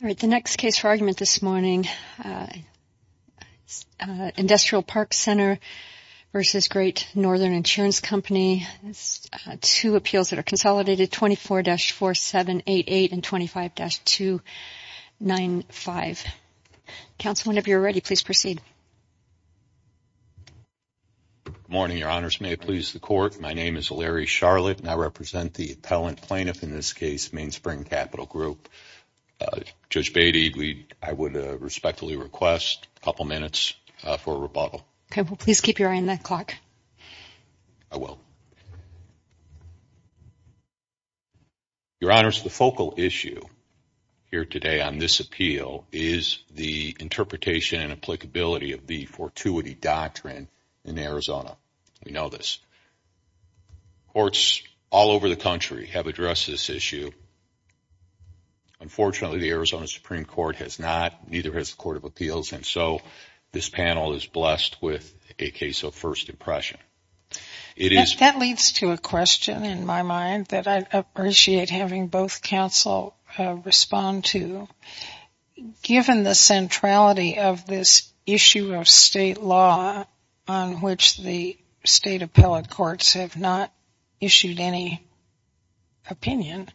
The next case for argument this morning, Industrial Park Center v. Great Northern Insurance Company, two appeals that are consolidated 24-4788 and 25-295. Counsel, whenever you're ready, please proceed. Good morning, Your Honors. May it please the Court, my name is Larry Charlotte, and I represent the appellant plaintiff in this case, Mainspring Capital Group. Judge Beatty, I would respectfully request a couple minutes for a rebuttal. Okay. Well, please keep your eye on that clock. I will. Your Honors, the focal issue here today on this appeal is the interpretation and applicability of the fortuity doctrine in Arizona. We know this. Courts all over the country have addressed this issue. Unfortunately, the Arizona Supreme Court has not, neither has the Court of Appeals, and so this panel is blessed with a case of first impression. That leads to a question in my mind that I'd appreciate having both counsel respond to. Given the centrality of this issue of state law on which the state appellate courts have not issued any opinion,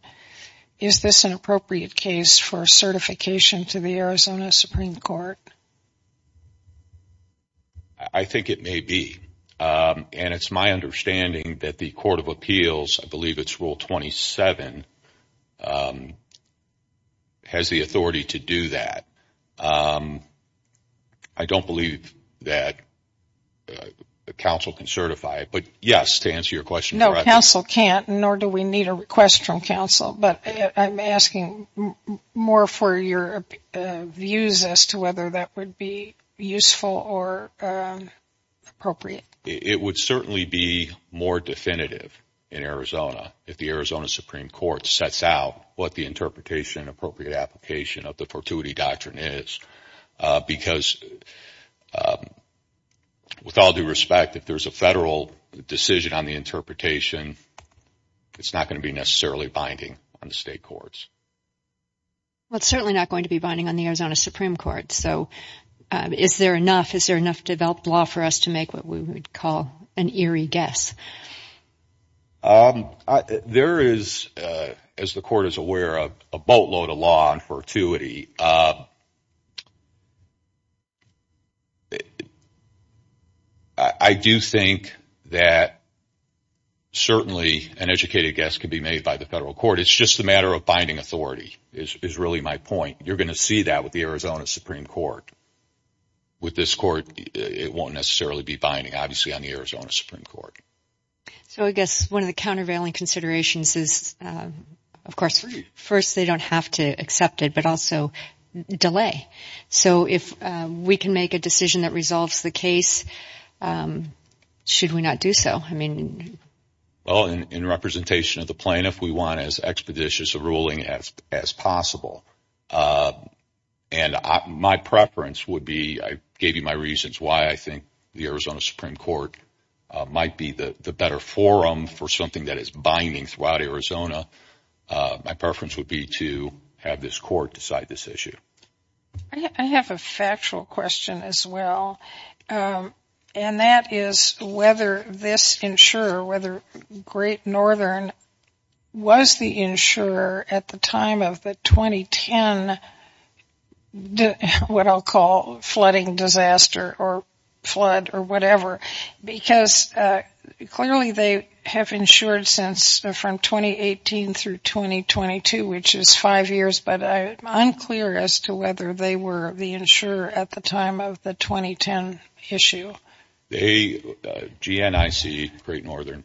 is this an appropriate case for certification to the Arizona Supreme Court? I think it may be, and it's my understanding that the Court of Appeals, I believe it's Rule 27, has the authority to do that. I don't believe that counsel can certify it, but yes, to answer your question correctly. No, counsel can't, nor do we need a request from counsel, but I'm asking more for your views as to whether that would be useful or appropriate. It would certainly be more definitive in Arizona if the Arizona Supreme Court sets out what the interpretation and appropriate application of the fortuity doctrine is, because with all due respect, if there's a federal decision on the interpretation, it's not going to be necessarily binding on the state courts. Well, it's certainly not going to be binding on the Arizona Supreme Court, so is there enough developed law for us to make what we would call an eerie guess? There is, as the Court is aware of, a boatload of law on fortuity. I do think that certainly an educated guess can be made by the federal court. It's just a matter of binding authority is really my point. You're going to see that with the Arizona Supreme Court. With this court, it won't necessarily be binding, obviously, on the Arizona Supreme Court. So I guess one of the countervailing considerations is, of course, first they don't have to accept it, but also delay. So if we can make a decision that resolves the case, should we not do so? Well, in representation of the plaintiff, we want as expeditious a ruling as possible. And my preference would be, I gave you my reasons why I think the Arizona Supreme Court might be the better forum for something that is binding throughout Arizona. My preference would be to have this court decide this issue. I have a factual question as well, and that is whether this insurer, whether Great Northern was the insurer at the time of the 2010, what I'll call, flooding disaster or flood or whatever. Because clearly they have insured from 2018 through 2022, which is five years, but I'm unclear as to whether they were the insurer at the time of the 2010 issue. GNIC, Great Northern,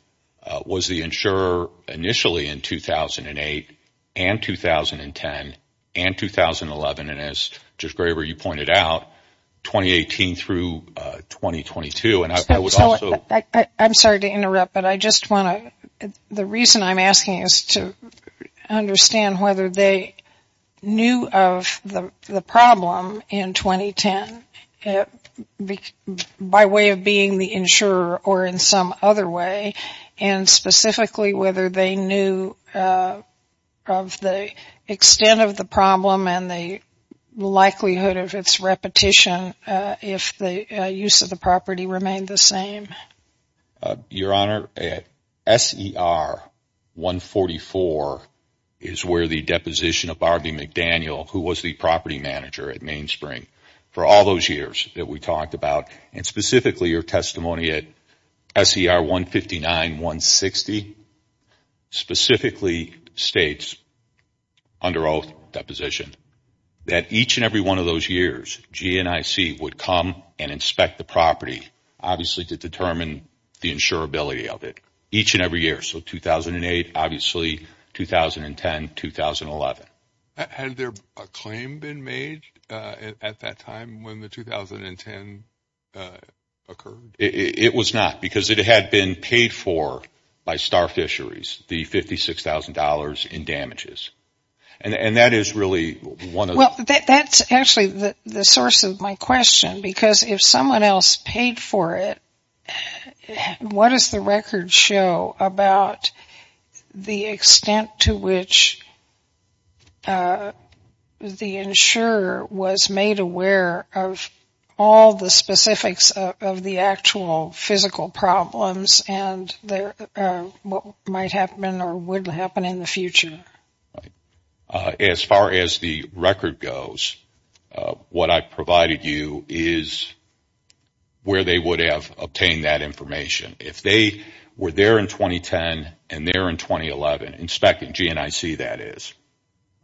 was the insurer initially in 2008 and 2010 and 2011, and as Judge Graber, you pointed out, 2018 through 2022. I'm sorry to interrupt, but the reason I'm asking is to understand whether they knew of the problem in 2010 by way of being the insurer or in some other way, and specifically whether they knew of the extent of the problem and the likelihood of its repetition if the use of the property remained the same. Your Honor, S.E.R. 144 is where the deposition of Barb McDaniel, who was the property manager at Main Spring for all those years that we talked about, and specifically your testimony at S.E.R. 159-160 specifically states, under oath deposition, that each and every one of those years GNIC would come and inspect the property, obviously to determine the insurability of it, each and every year. So 2008, obviously, 2010, 2011. Had there a claim been made at that time when the 2010 occurred? It was not, because it had been paid for by Star Fisheries, the $56,000 in damages, and that is really one of the... Well, that's actually the source of my question, because if someone else paid for it, what does the record show about the extent to which the insurer was made aware of all the specifics of the actual physical problems and what might happen or would happen in the future? As far as the record goes, what I provided you is where they would have obtained that information. If they were there in 2010 and there in 2011, inspecting GNIC, that is.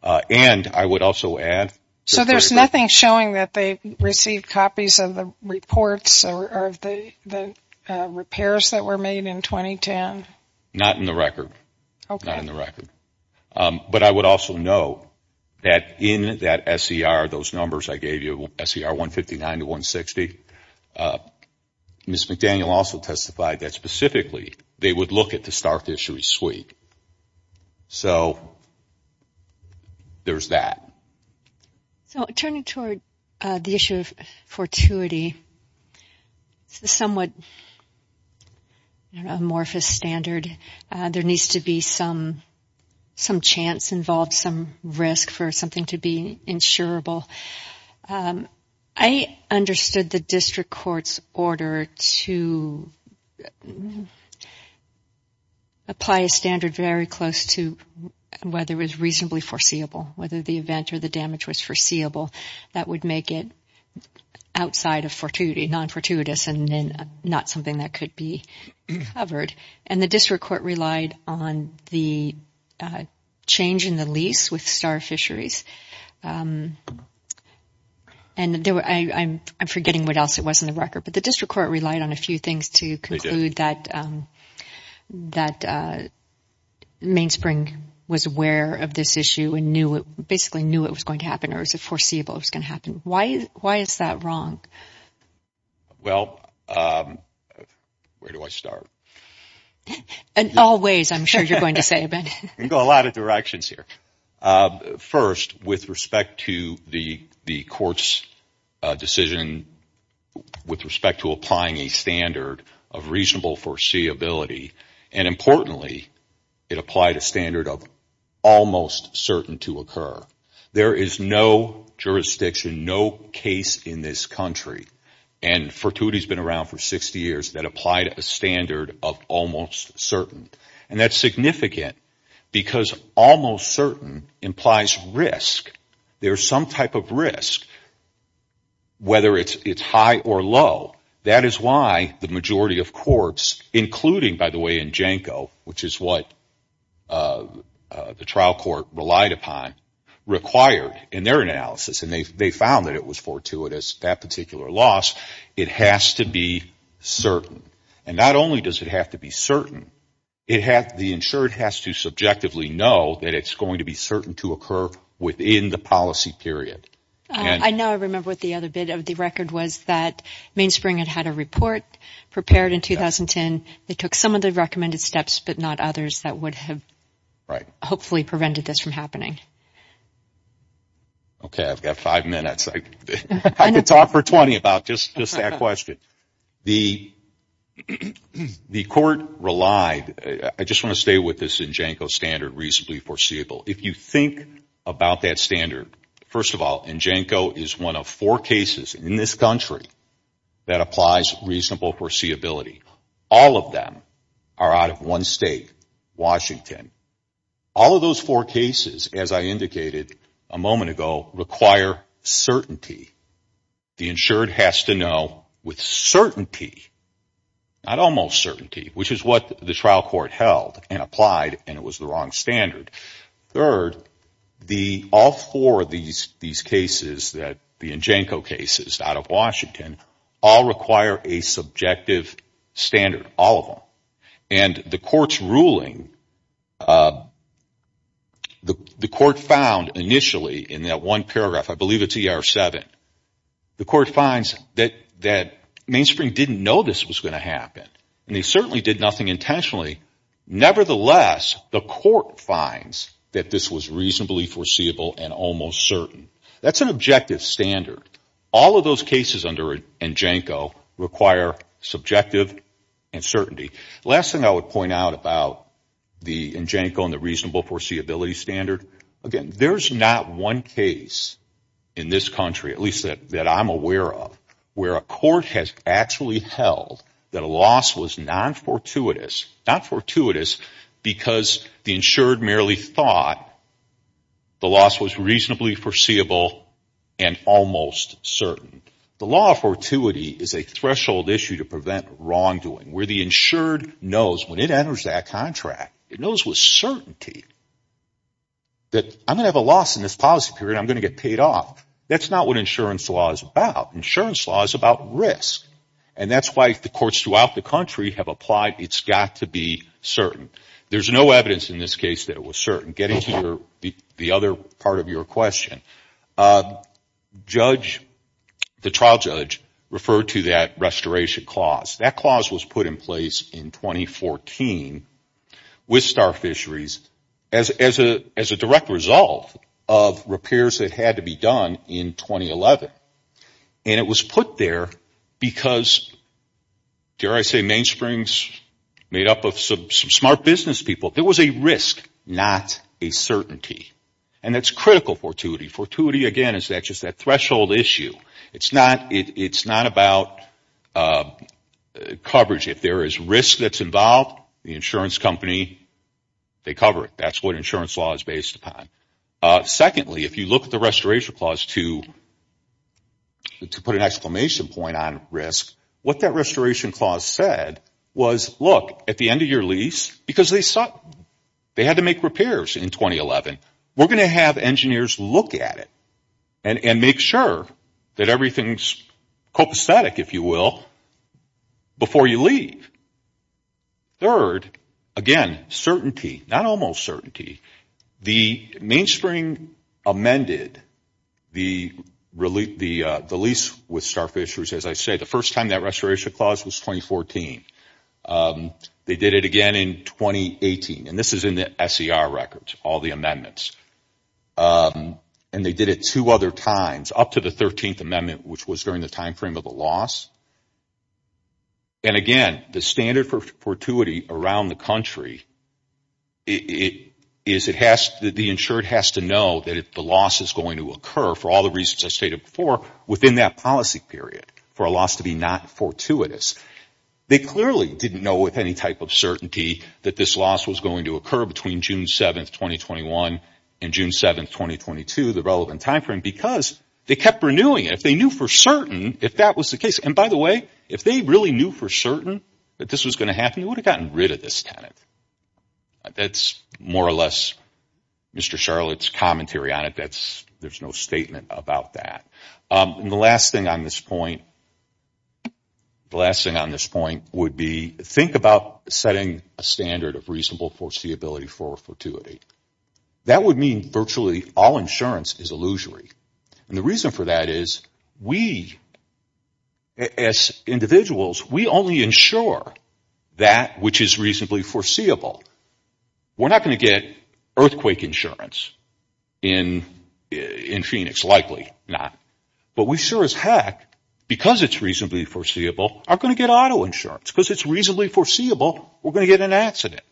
And I would also add... So there's nothing showing that they received copies of the reports or of the repairs that were made in 2010? Not in the record. Okay. Not in the record. But I would also note that in that SER, those numbers I gave you, SER 159 to 160, Ms. McDaniel also testified that specifically they would look at the Star Fisheries suite. So there's that. Turning toward the issue of fortuity, it's a somewhat amorphous standard. There needs to be some chance involved, some risk for something to be insurable. I understood the district court's order to apply a standard very close to whether it was reasonably foreseeable, whether the event or the damage was foreseeable. That would make it outside of non-fortuitous and not something that could be covered. And the district court relied on the change in the lease with Star Fisheries. And I'm forgetting what else it was in the record, but the district court relied on a few things to conclude that that Mainspring was aware of this issue and basically knew it was going to happen or it was foreseeable it was going to happen. Why is that wrong? Well, where do I start? In all ways, I'm sure you're going to say, Ben. You can go a lot of directions here. First, with respect to the court's decision with respect to applying a standard of reasonable foreseeability, and importantly, it applied a standard of almost certain to occur. There is no jurisdiction, no case in this country, and fortuity has been around for 60 years, that applied a standard of almost certain. And that's significant because almost certain implies risk. There's some type of risk, whether it's high or low. That is why the majority of courts, including, by the way, in Janco, which is what the trial court relied upon, required in their analysis, and they found that it was fortuitous, that particular loss. It has to be certain. And not only does it have to be certain, the insured has to subjectively know that it's going to be certain to occur within the policy period. I know I remember what the other bit of the record was, that Mainspring had had a report prepared in 2010. They took some of the recommended steps, but not others, that would have hopefully prevented this from happening. Okay, I've got five minutes. I could talk for 20 about just that question. The court relied, I just want to stay with this Janco standard, reasonably foreseeable. If you think about that standard, first of all, Janco is one of four cases in this country that applies reasonable foreseeability. All of them are out of one state, Washington. All of those four cases, as I indicated a moment ago, require certainty. The insured has to know with certainty, not almost certainty, which is what the trial court held and applied, and it was the wrong standard. Third, all four of these cases, the Janco cases out of Washington, all require a subjective standard, all of them. And the court's ruling, the court found initially in that one paragraph, I believe it's ER7, the court finds that Mainspring didn't know this was going to happen. And they certainly did nothing intentionally. Nevertheless, the court finds that this was reasonably foreseeable and almost certain. That's an objective standard. All of those cases under Janco require subjective and certainty. The last thing I would point out about the Janco and the reasonable foreseeability standard, again, there's not one case in this country, at least that I'm aware of, where a court has actually held that a loss was non-fortuitous, not fortuitous because the insured merely thought the loss was reasonably foreseeable and almost certain. The law of fortuity is a threshold issue to prevent wrongdoing, where the insured knows when it enters that contract, it knows with certainty that I'm going to have a loss in this policy period, I'm going to get paid off. That's not what insurance law is about. Insurance law is about risk. And that's why the courts throughout the country have applied it's got to be certain. There's no evidence in this case that it was certain. Getting to the other part of your question, the trial judge referred to that restoration clause. That clause was put in place in 2014 with Star Fisheries as a direct result of repairs that had to be done in 2011. And it was put there because, dare I say, Main Springs made up of some smart business people. There was a risk, not a certainty. And that's critical fortuity. Fortuity, again, is just that threshold issue. It's not about coverage. If there is risk that's involved, the insurance company, they cover it. That's what insurance law is based upon. Secondly, if you look at the restoration clause to put an exclamation point on risk, what that restoration clause said was, look, at the end of your lease, because they had to make repairs in 2011, we're going to have engineers look at it and make sure that everything's copacetic, if you will, before you leave. Third, again, certainty. Not almost certainty. The Main Springs amended the lease with Star Fisheries, as I said. The first time that restoration clause was 2014. They did it again in 2018. And this is in the SCR records, all the amendments. And they did it two other times, up to the 13th Amendment, which was during the timeframe of the loss. And, again, the standard for fortuity around the country is the insured has to know that if the loss is going to occur, for all the reasons I stated before, within that policy period, for a loss to be not fortuitous. They clearly didn't know with any type of certainty that this loss was going to occur between June 7th, 2021 and June 7th, 2022, the relevant timeframe, because they kept renewing it. If they knew for certain, if that was the case, and, by the way, if they really knew for certain that this was going to happen, they would have gotten rid of this tenant. That's more or less Mr. Charlotte's commentary on it. There's no statement about that. And the last thing on this point would be think about setting a standard of reasonable foreseeability for fortuity. That would mean virtually all insurance is illusory. And the reason for that is we, as individuals, we only insure that which is reasonably foreseeable. We're not going to get earthquake insurance in Phoenix, likely not. But we sure as heck, because it's reasonably foreseeable, are going to get auto insurance. Because it's reasonably foreseeable, we're going to get an accident.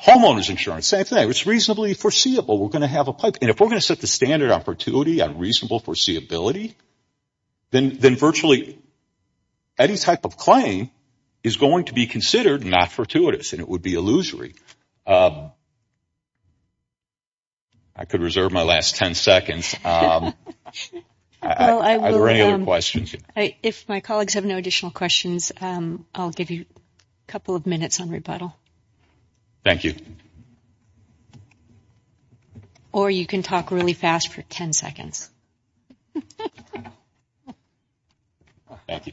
Homeowner's insurance, same thing. It's reasonably foreseeable. We're going to have a pipe. And if we're going to set the standard on fortuity, on reasonable foreseeability, then virtually any type of claim is going to be considered not fortuitous and it would be illusory. I could reserve my last 10 seconds. Are there any other questions? If my colleagues have no additional questions, I'll give you a couple of minutes on rebuttal. Thank you. Or you can talk really fast for 10 seconds. Thank you.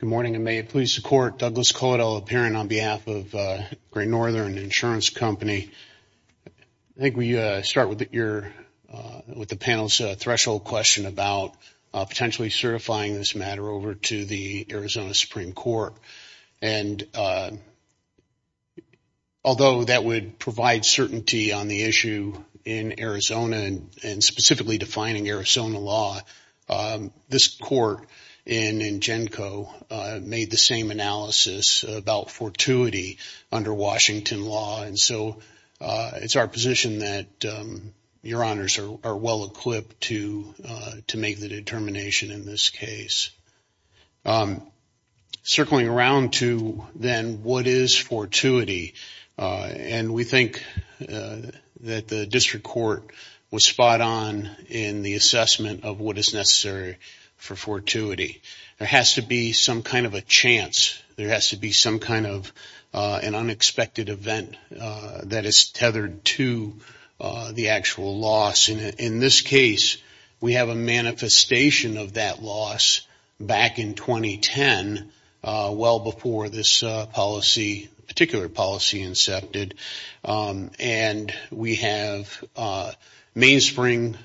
Good morning. And may it please the Court, Douglas Caudill, a parent on behalf of Great Northern Insurance Company. I think we start with the panel's threshold question about potentially certifying this matter over to the Arizona Supreme Court. Although that would provide certainty on the issue in Arizona and specifically defining Arizona law, this court in Ingenco made the same analysis about fortuity under Washington law. And so it's our position that your honors are well equipped to make the determination in this case. Circling around to then what is fortuity, and we think that the district court was spot on in the assessment of what is necessary for fortuity. There has to be some kind of a chance. There has to be some kind of an unexpected event that is tethered to the actual loss. And in this case, we have a manifestation of that loss back in 2010, well before this policy, particular policy, incepted. And we have Mainspring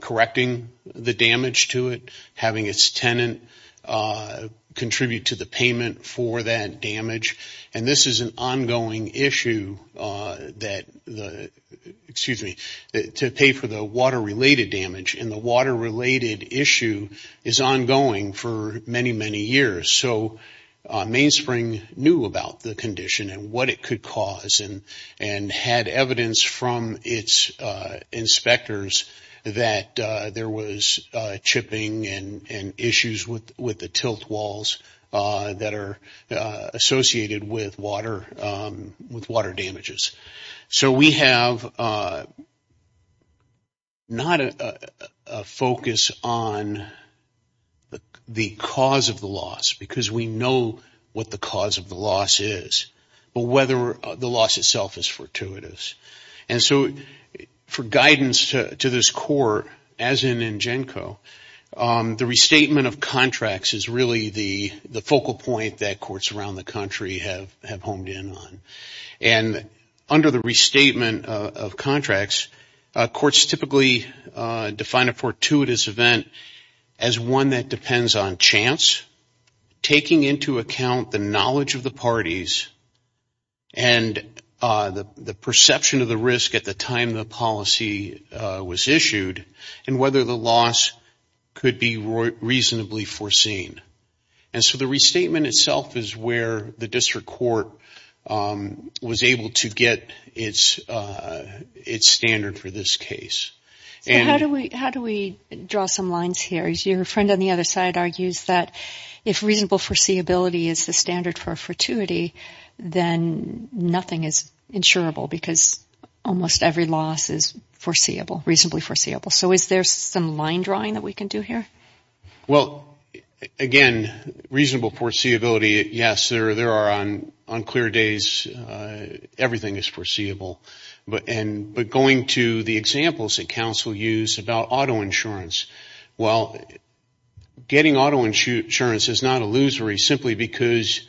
correcting the damage to it, having its tenant contribute to the payment for that damage. And this is an ongoing issue that the, excuse me, to pay for the water-related damage. And the water-related issue is ongoing for many, many years. So Mainspring knew about the condition and what it could cause and had evidence from its inspectors that there was chipping and issues with the tilt walls that are associated with water, with water damages. So we have not a focus on the cause of the loss, because we know what the cause of the loss is, but whether the loss itself is fortuitous. And so for guidance to this court, as in NGENCO, the restatement of contracts is really the focal point that courts around the country have honed in on. And under the restatement of contracts, courts typically define a fortuitous event as one that depends on chance, taking into account the knowledge of the parties, and the perception of the risk at the time the policy was issued, and whether the loss could be reasonably foreseen. And so the restatement itself is where the district court was able to get its standard for this case. So how do we draw some lines here? Your friend on the other side argues that if reasonable foreseeability is the standard for a fortuity, then nothing is insurable, because almost every loss is foreseeable, reasonably foreseeable. So is there some line drawing that we can do here? Well, again, reasonable foreseeability, yes, there are on clear days, everything is foreseeable. But going to the examples that counsel used about auto insurance, well, getting auto insurance is not illusory simply because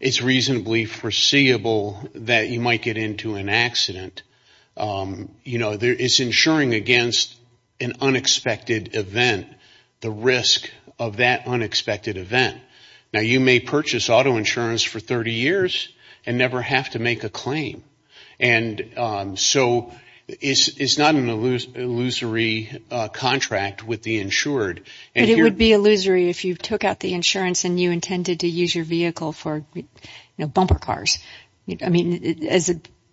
it's reasonably foreseeable that you might get into an accident. It's insuring against an unexpected event. The risk of that unexpected event. Now, you may purchase auto insurance for 30 years and never have to make a claim. And so it's not an illusory contract with the insured. But it would be illusory if you took out the insurance and you intended to use your vehicle for bumper cars. I mean,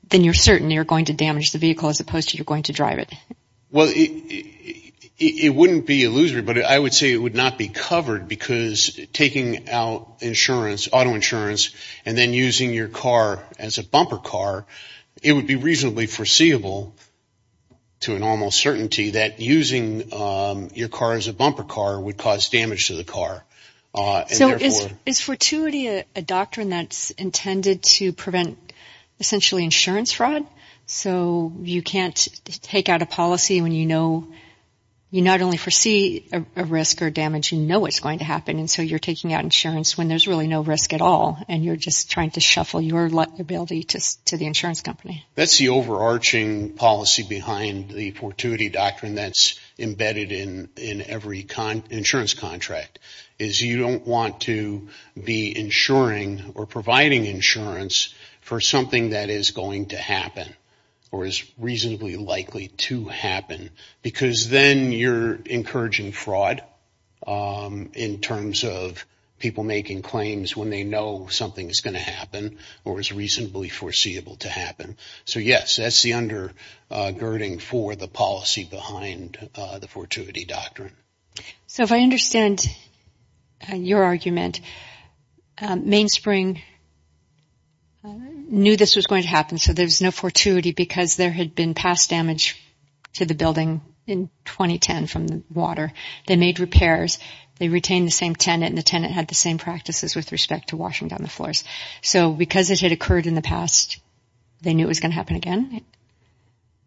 then you're certain you're going to damage the vehicle as opposed to you're going to drive it. Well, it wouldn't be illusory, but I would say it would not be covered because taking out insurance, auto insurance, and then using your car as a bumper car, it would be reasonably foreseeable to an almost certainty that using your car as a bumper car would cause damage to the car. So is fortuity a doctrine that's intended to prevent essentially insurance fraud? So you can't take out a policy when you know you not only foresee a risk or damage, you know what's going to happen. And so you're taking out insurance when there's really no risk at all and you're just trying to shuffle your ability to the insurance company. That's the overarching policy behind the fortuity doctrine that's embedded in every insurance contract is you don't want to be insuring or providing insurance for something that is going to happen or is reasonably likely to happen because then you're encouraging fraud in terms of people making claims when they know something is going to happen or is reasonably foreseeable to happen. So, yes, that's the undergirding for the policy behind the fortuity doctrine. So if I understand your argument, Mainspring knew this was going to happen so there's no fortuity because there had been past damage to the building in 2010 from the water. They made repairs. They retained the same tenant and the tenant had the same practices with respect to washing down the floors. So because it had occurred in the past, they knew it was going to happen again?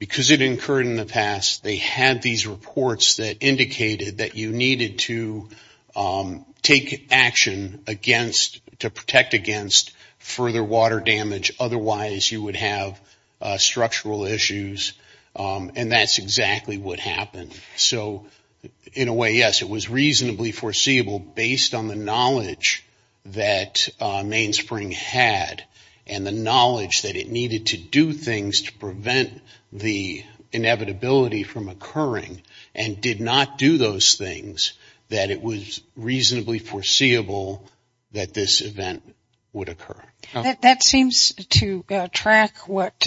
Because it had occurred in the past, they had these reports that indicated that you needed to take action against, to protect against further water damage, otherwise you would have structural issues and that's exactly what happened. So in a way, yes, it was reasonably foreseeable based on the knowledge that Mainspring had and the knowledge that it needed to do things to prevent the inevitability from occurring and did not do those things that it was reasonably foreseeable that this event would occur. That seems to track what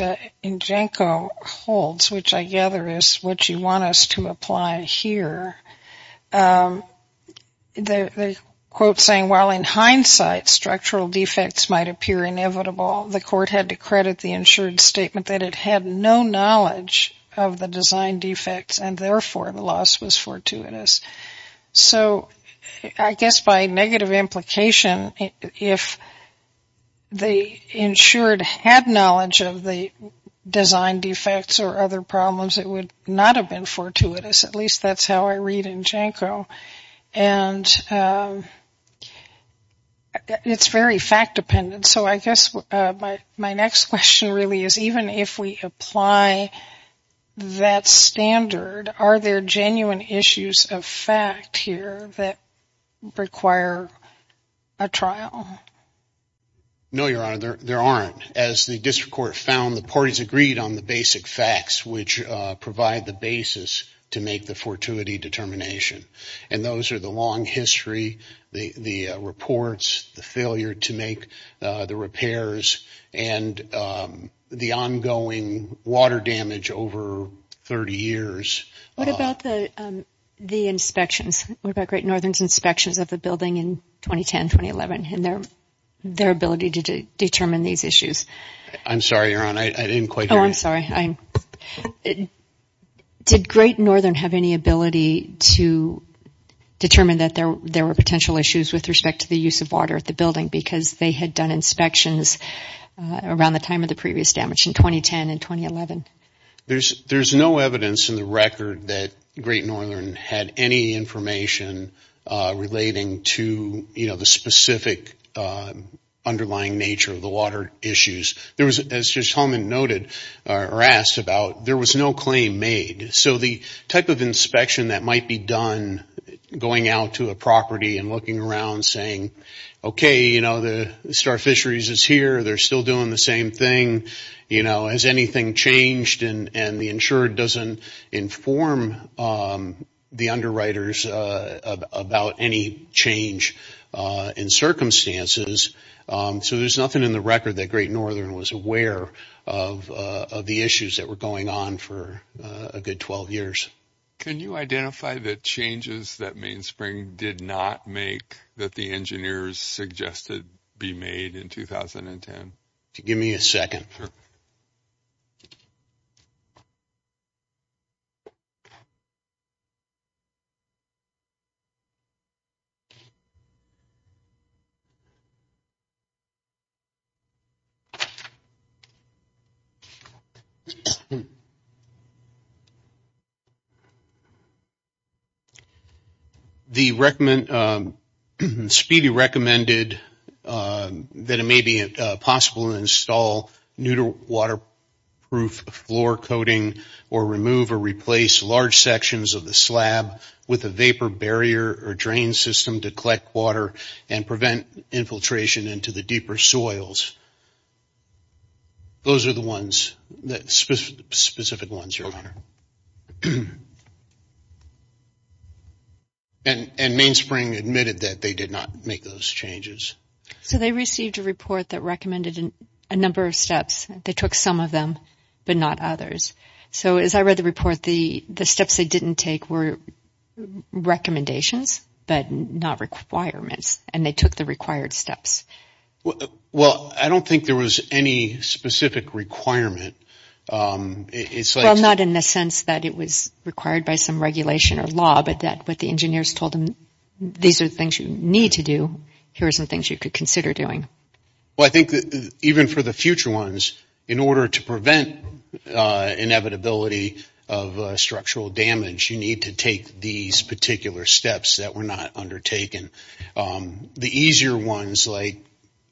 Njenko holds, which I gather is what you want us to apply here. The quote saying, while in hindsight structural defects might appear inevitable, the court had to credit the insured statement that it had no knowledge of the design defects and therefore the loss was fortuitous. So I guess by negative implication, if the insured had knowledge of the design defects or other problems, it would not have been fortuitous. At least that's how I read Njenko. And it's very fact-dependent. So I guess my next question really is, even if we apply that standard, are there genuine issues of fact here that require a trial? No, Your Honor, there aren't. As the district court found, the parties agreed on the basic facts which provide the basis to make the fortuity determination. And those are the long history, the reports, the failure to make the repairs, and the ongoing water damage over 30 years. What about the inspections? What about Great Northern's inspections of the building in 2010-2011 and their ability to determine these issues? I'm sorry, Your Honor, I didn't quite hear you. Oh, I'm sorry. Did Great Northern have any ability to determine that there were potential issues with respect to the use of water at the building because they had done inspections around the time of the previous damage in 2010 and 2011? There's no evidence in the record that Great Northern had any information relating to, you know, the specific underlying nature of the water issues. As Judge Holman noted or asked about, there was no claim made. So the type of inspection that might be done going out to a property and looking around saying, okay, you know, the Star Fisheries is here. They're still doing the same thing. You know, has anything changed? And the insurer doesn't inform the underwriters about any change in circumstances. So there's nothing in the record that Great Northern was aware of the issues that were going on for a good 12 years. Can you identify the changes that Mainspring did not make that the engineers suggested be made in 2010? Give me a second. Sure. Speedy recommended that it may be possible to install neutral waterproof floor coating or remove or replace large sections of the slab with a vapor barrier or drain system to collect water and prevent infiltration into the deeper soils. Those are the ones, specific ones, Your Honor. And Mainspring admitted that they did not make those changes. So they received a report that recommended a number of steps. They took some of them but not others. So as I read the report, the steps they didn't take were recommendations but not requirements, and they took the required steps. Well, I don't think there was any specific requirement. Well, not in the sense that it was required by some regulation or law, but that what the engineers told them, these are the things you need to do. Here are some things you could consider doing. Well, I think that even for the future ones, in order to prevent inevitability of structural damage, you need to take these particular steps that were not undertaken. The easier ones like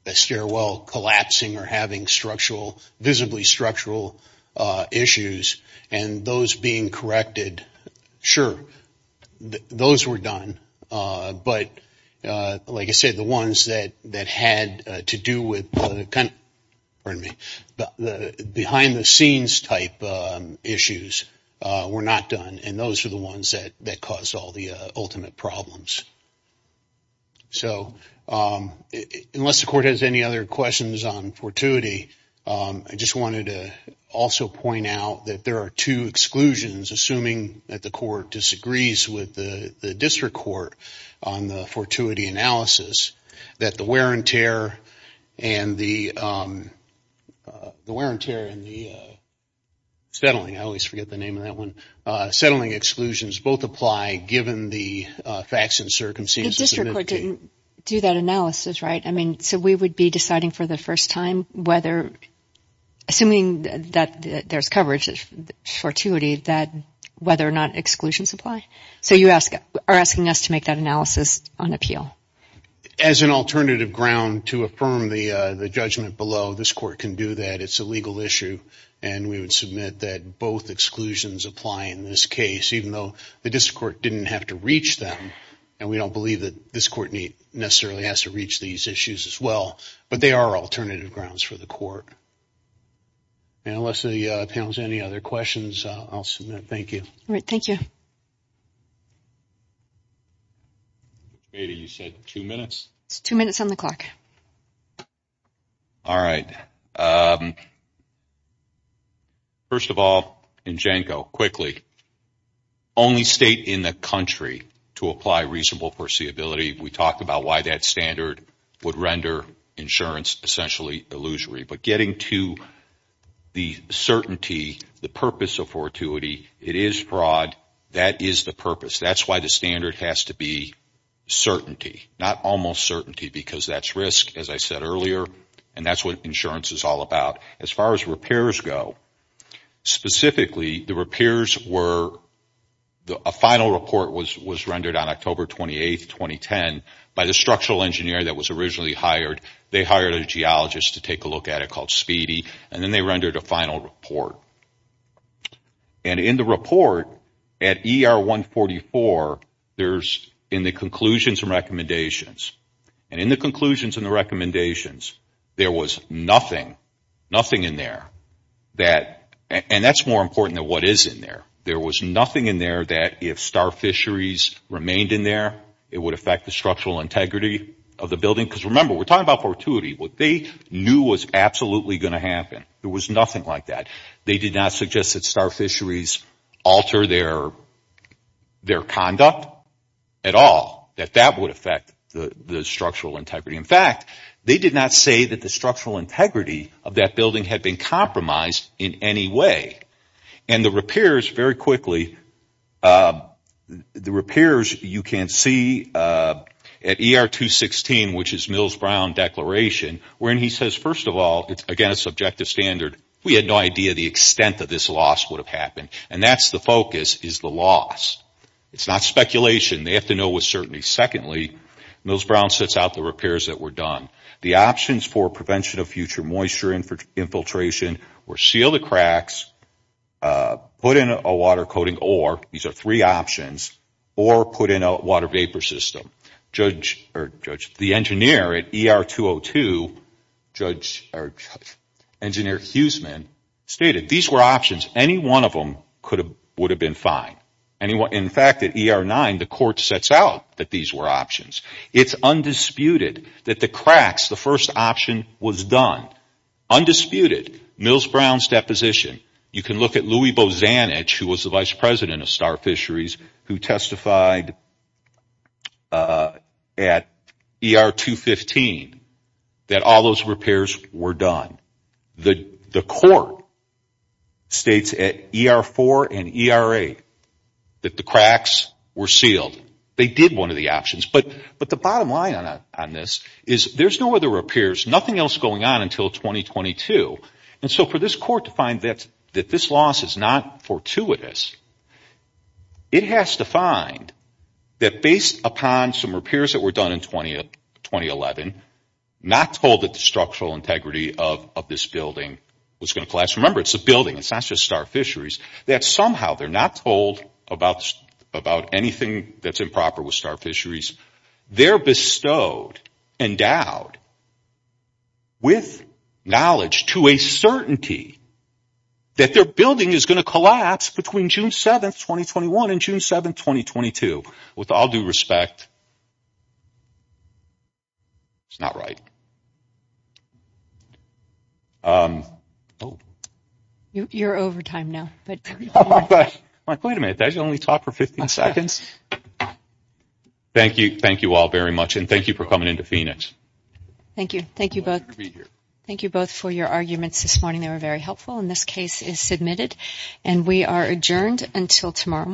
a stairwell collapsing or having structural, visibly structural issues and those being corrected, sure, those were done. But like I said, the ones that had to do with the kind of, pardon me, the behind-the-scenes type issues were not done, and those were the ones that caused all the ultimate problems. So unless the Court has any other questions on fortuity, I just wanted to also point out that there are two exclusions, assuming that the Court disagrees with the District Court on the fortuity analysis, that the wear and tear and the settling, I always forget the name of that one, settling exclusions both apply given the facts and circumstances. The District Court didn't do that analysis, right? I mean, so we would be deciding for the first time whether, assuming that there's coverage of fortuity, that whether or not exclusions apply. So you are asking us to make that analysis on appeal. As an alternative ground to affirm the judgment below, this Court can do that. It's a legal issue, and we would submit that both exclusions apply in this case, even though the District Court didn't have to reach them, and we don't believe that this Court necessarily has to reach these issues as well, but they are alternative grounds for the Court. And unless the panel has any other questions, I'll submit. Thank you. All right. Thank you. Ada, you said two minutes? It's two minutes on the clock. All right. First of all, and Janko, quickly, only state in the country to apply reasonable foreseeability. We talked about why that standard would render insurance essentially illusory. But getting to the certainty, the purpose of fortuity, it is fraud. That is the purpose. That's why the standard has to be certainty. Not almost certainty, because that's risk, as I said earlier, and that's what insurance is all about. As far as repairs go, specifically, the repairs were, a final report was rendered on October 28, 2010, by the structural engineer that was originally hired. They hired a geologist to take a look at it called Speedy, and then they rendered a final report. And in the report, at ER 144, there's, in the conclusions and recommendations, and in the conclusions and the recommendations, there was nothing, nothing in there. And that's more important than what is in there. There was nothing in there that if star fisheries remained in there, it would affect the structural integrity of the building. Because remember, we're talking about fortuity. What they knew was absolutely going to happen. There was nothing like that. They did not suggest that star fisheries alter their conduct at all, that that would affect the structural integrity. In fact, they did not say that the structural integrity of that building had been compromised in any way. And the repairs, very quickly, the repairs you can see at ER 216, which is Mills-Brown Declaration, where he says, first of all, it's, again, a subjective standard. We had no idea the extent of this loss would have happened. And that's the focus, is the loss. It's not speculation. They have to know with certainty. Secondly, Mills-Brown sets out the repairs that were done. The options for prevention of future moisture infiltration were seal the cracks, put in a water coating ore, these are three options, or put in a water vapor system. The engineer at ER 202, Engineer Huseman, stated these were options. Any one of them would have been fine. In fact, at ER 9, the court sets out that these were options. It's undisputed that the cracks, the first option, was done. Undisputed, Mills-Brown's deposition. You can look at Louis Bozanich, who was the Vice President of Star Fisheries, who testified at ER 215 that all those repairs were done. The court states at ER 4 and ER 8 that the cracks were sealed. They did one of the options. But the bottom line on this is there's no other repairs, there's nothing else going on until 2022. And so for this court to find that this loss is not fortuitous, it has to find that based upon some repairs that were done in 2011, not told that the structural integrity of this building was going to collapse. Remember, it's a building, it's not just Star Fisheries, that somehow they're not told about anything that's improper with Star Fisheries. They're bestowed, endowed with knowledge to a certainty that their building is going to collapse between June 7, 2021 and June 7, 2022. With all due respect, it's not right. You're over time now. Wait a minute, did I only talk for 15 seconds? Thank you all very much, and thank you for coming into Phoenix. Thank you. Thank you both. Thank you both for your arguments this morning. They were very helpful, and this case is submitted. And we are adjourned until tomorrow morning.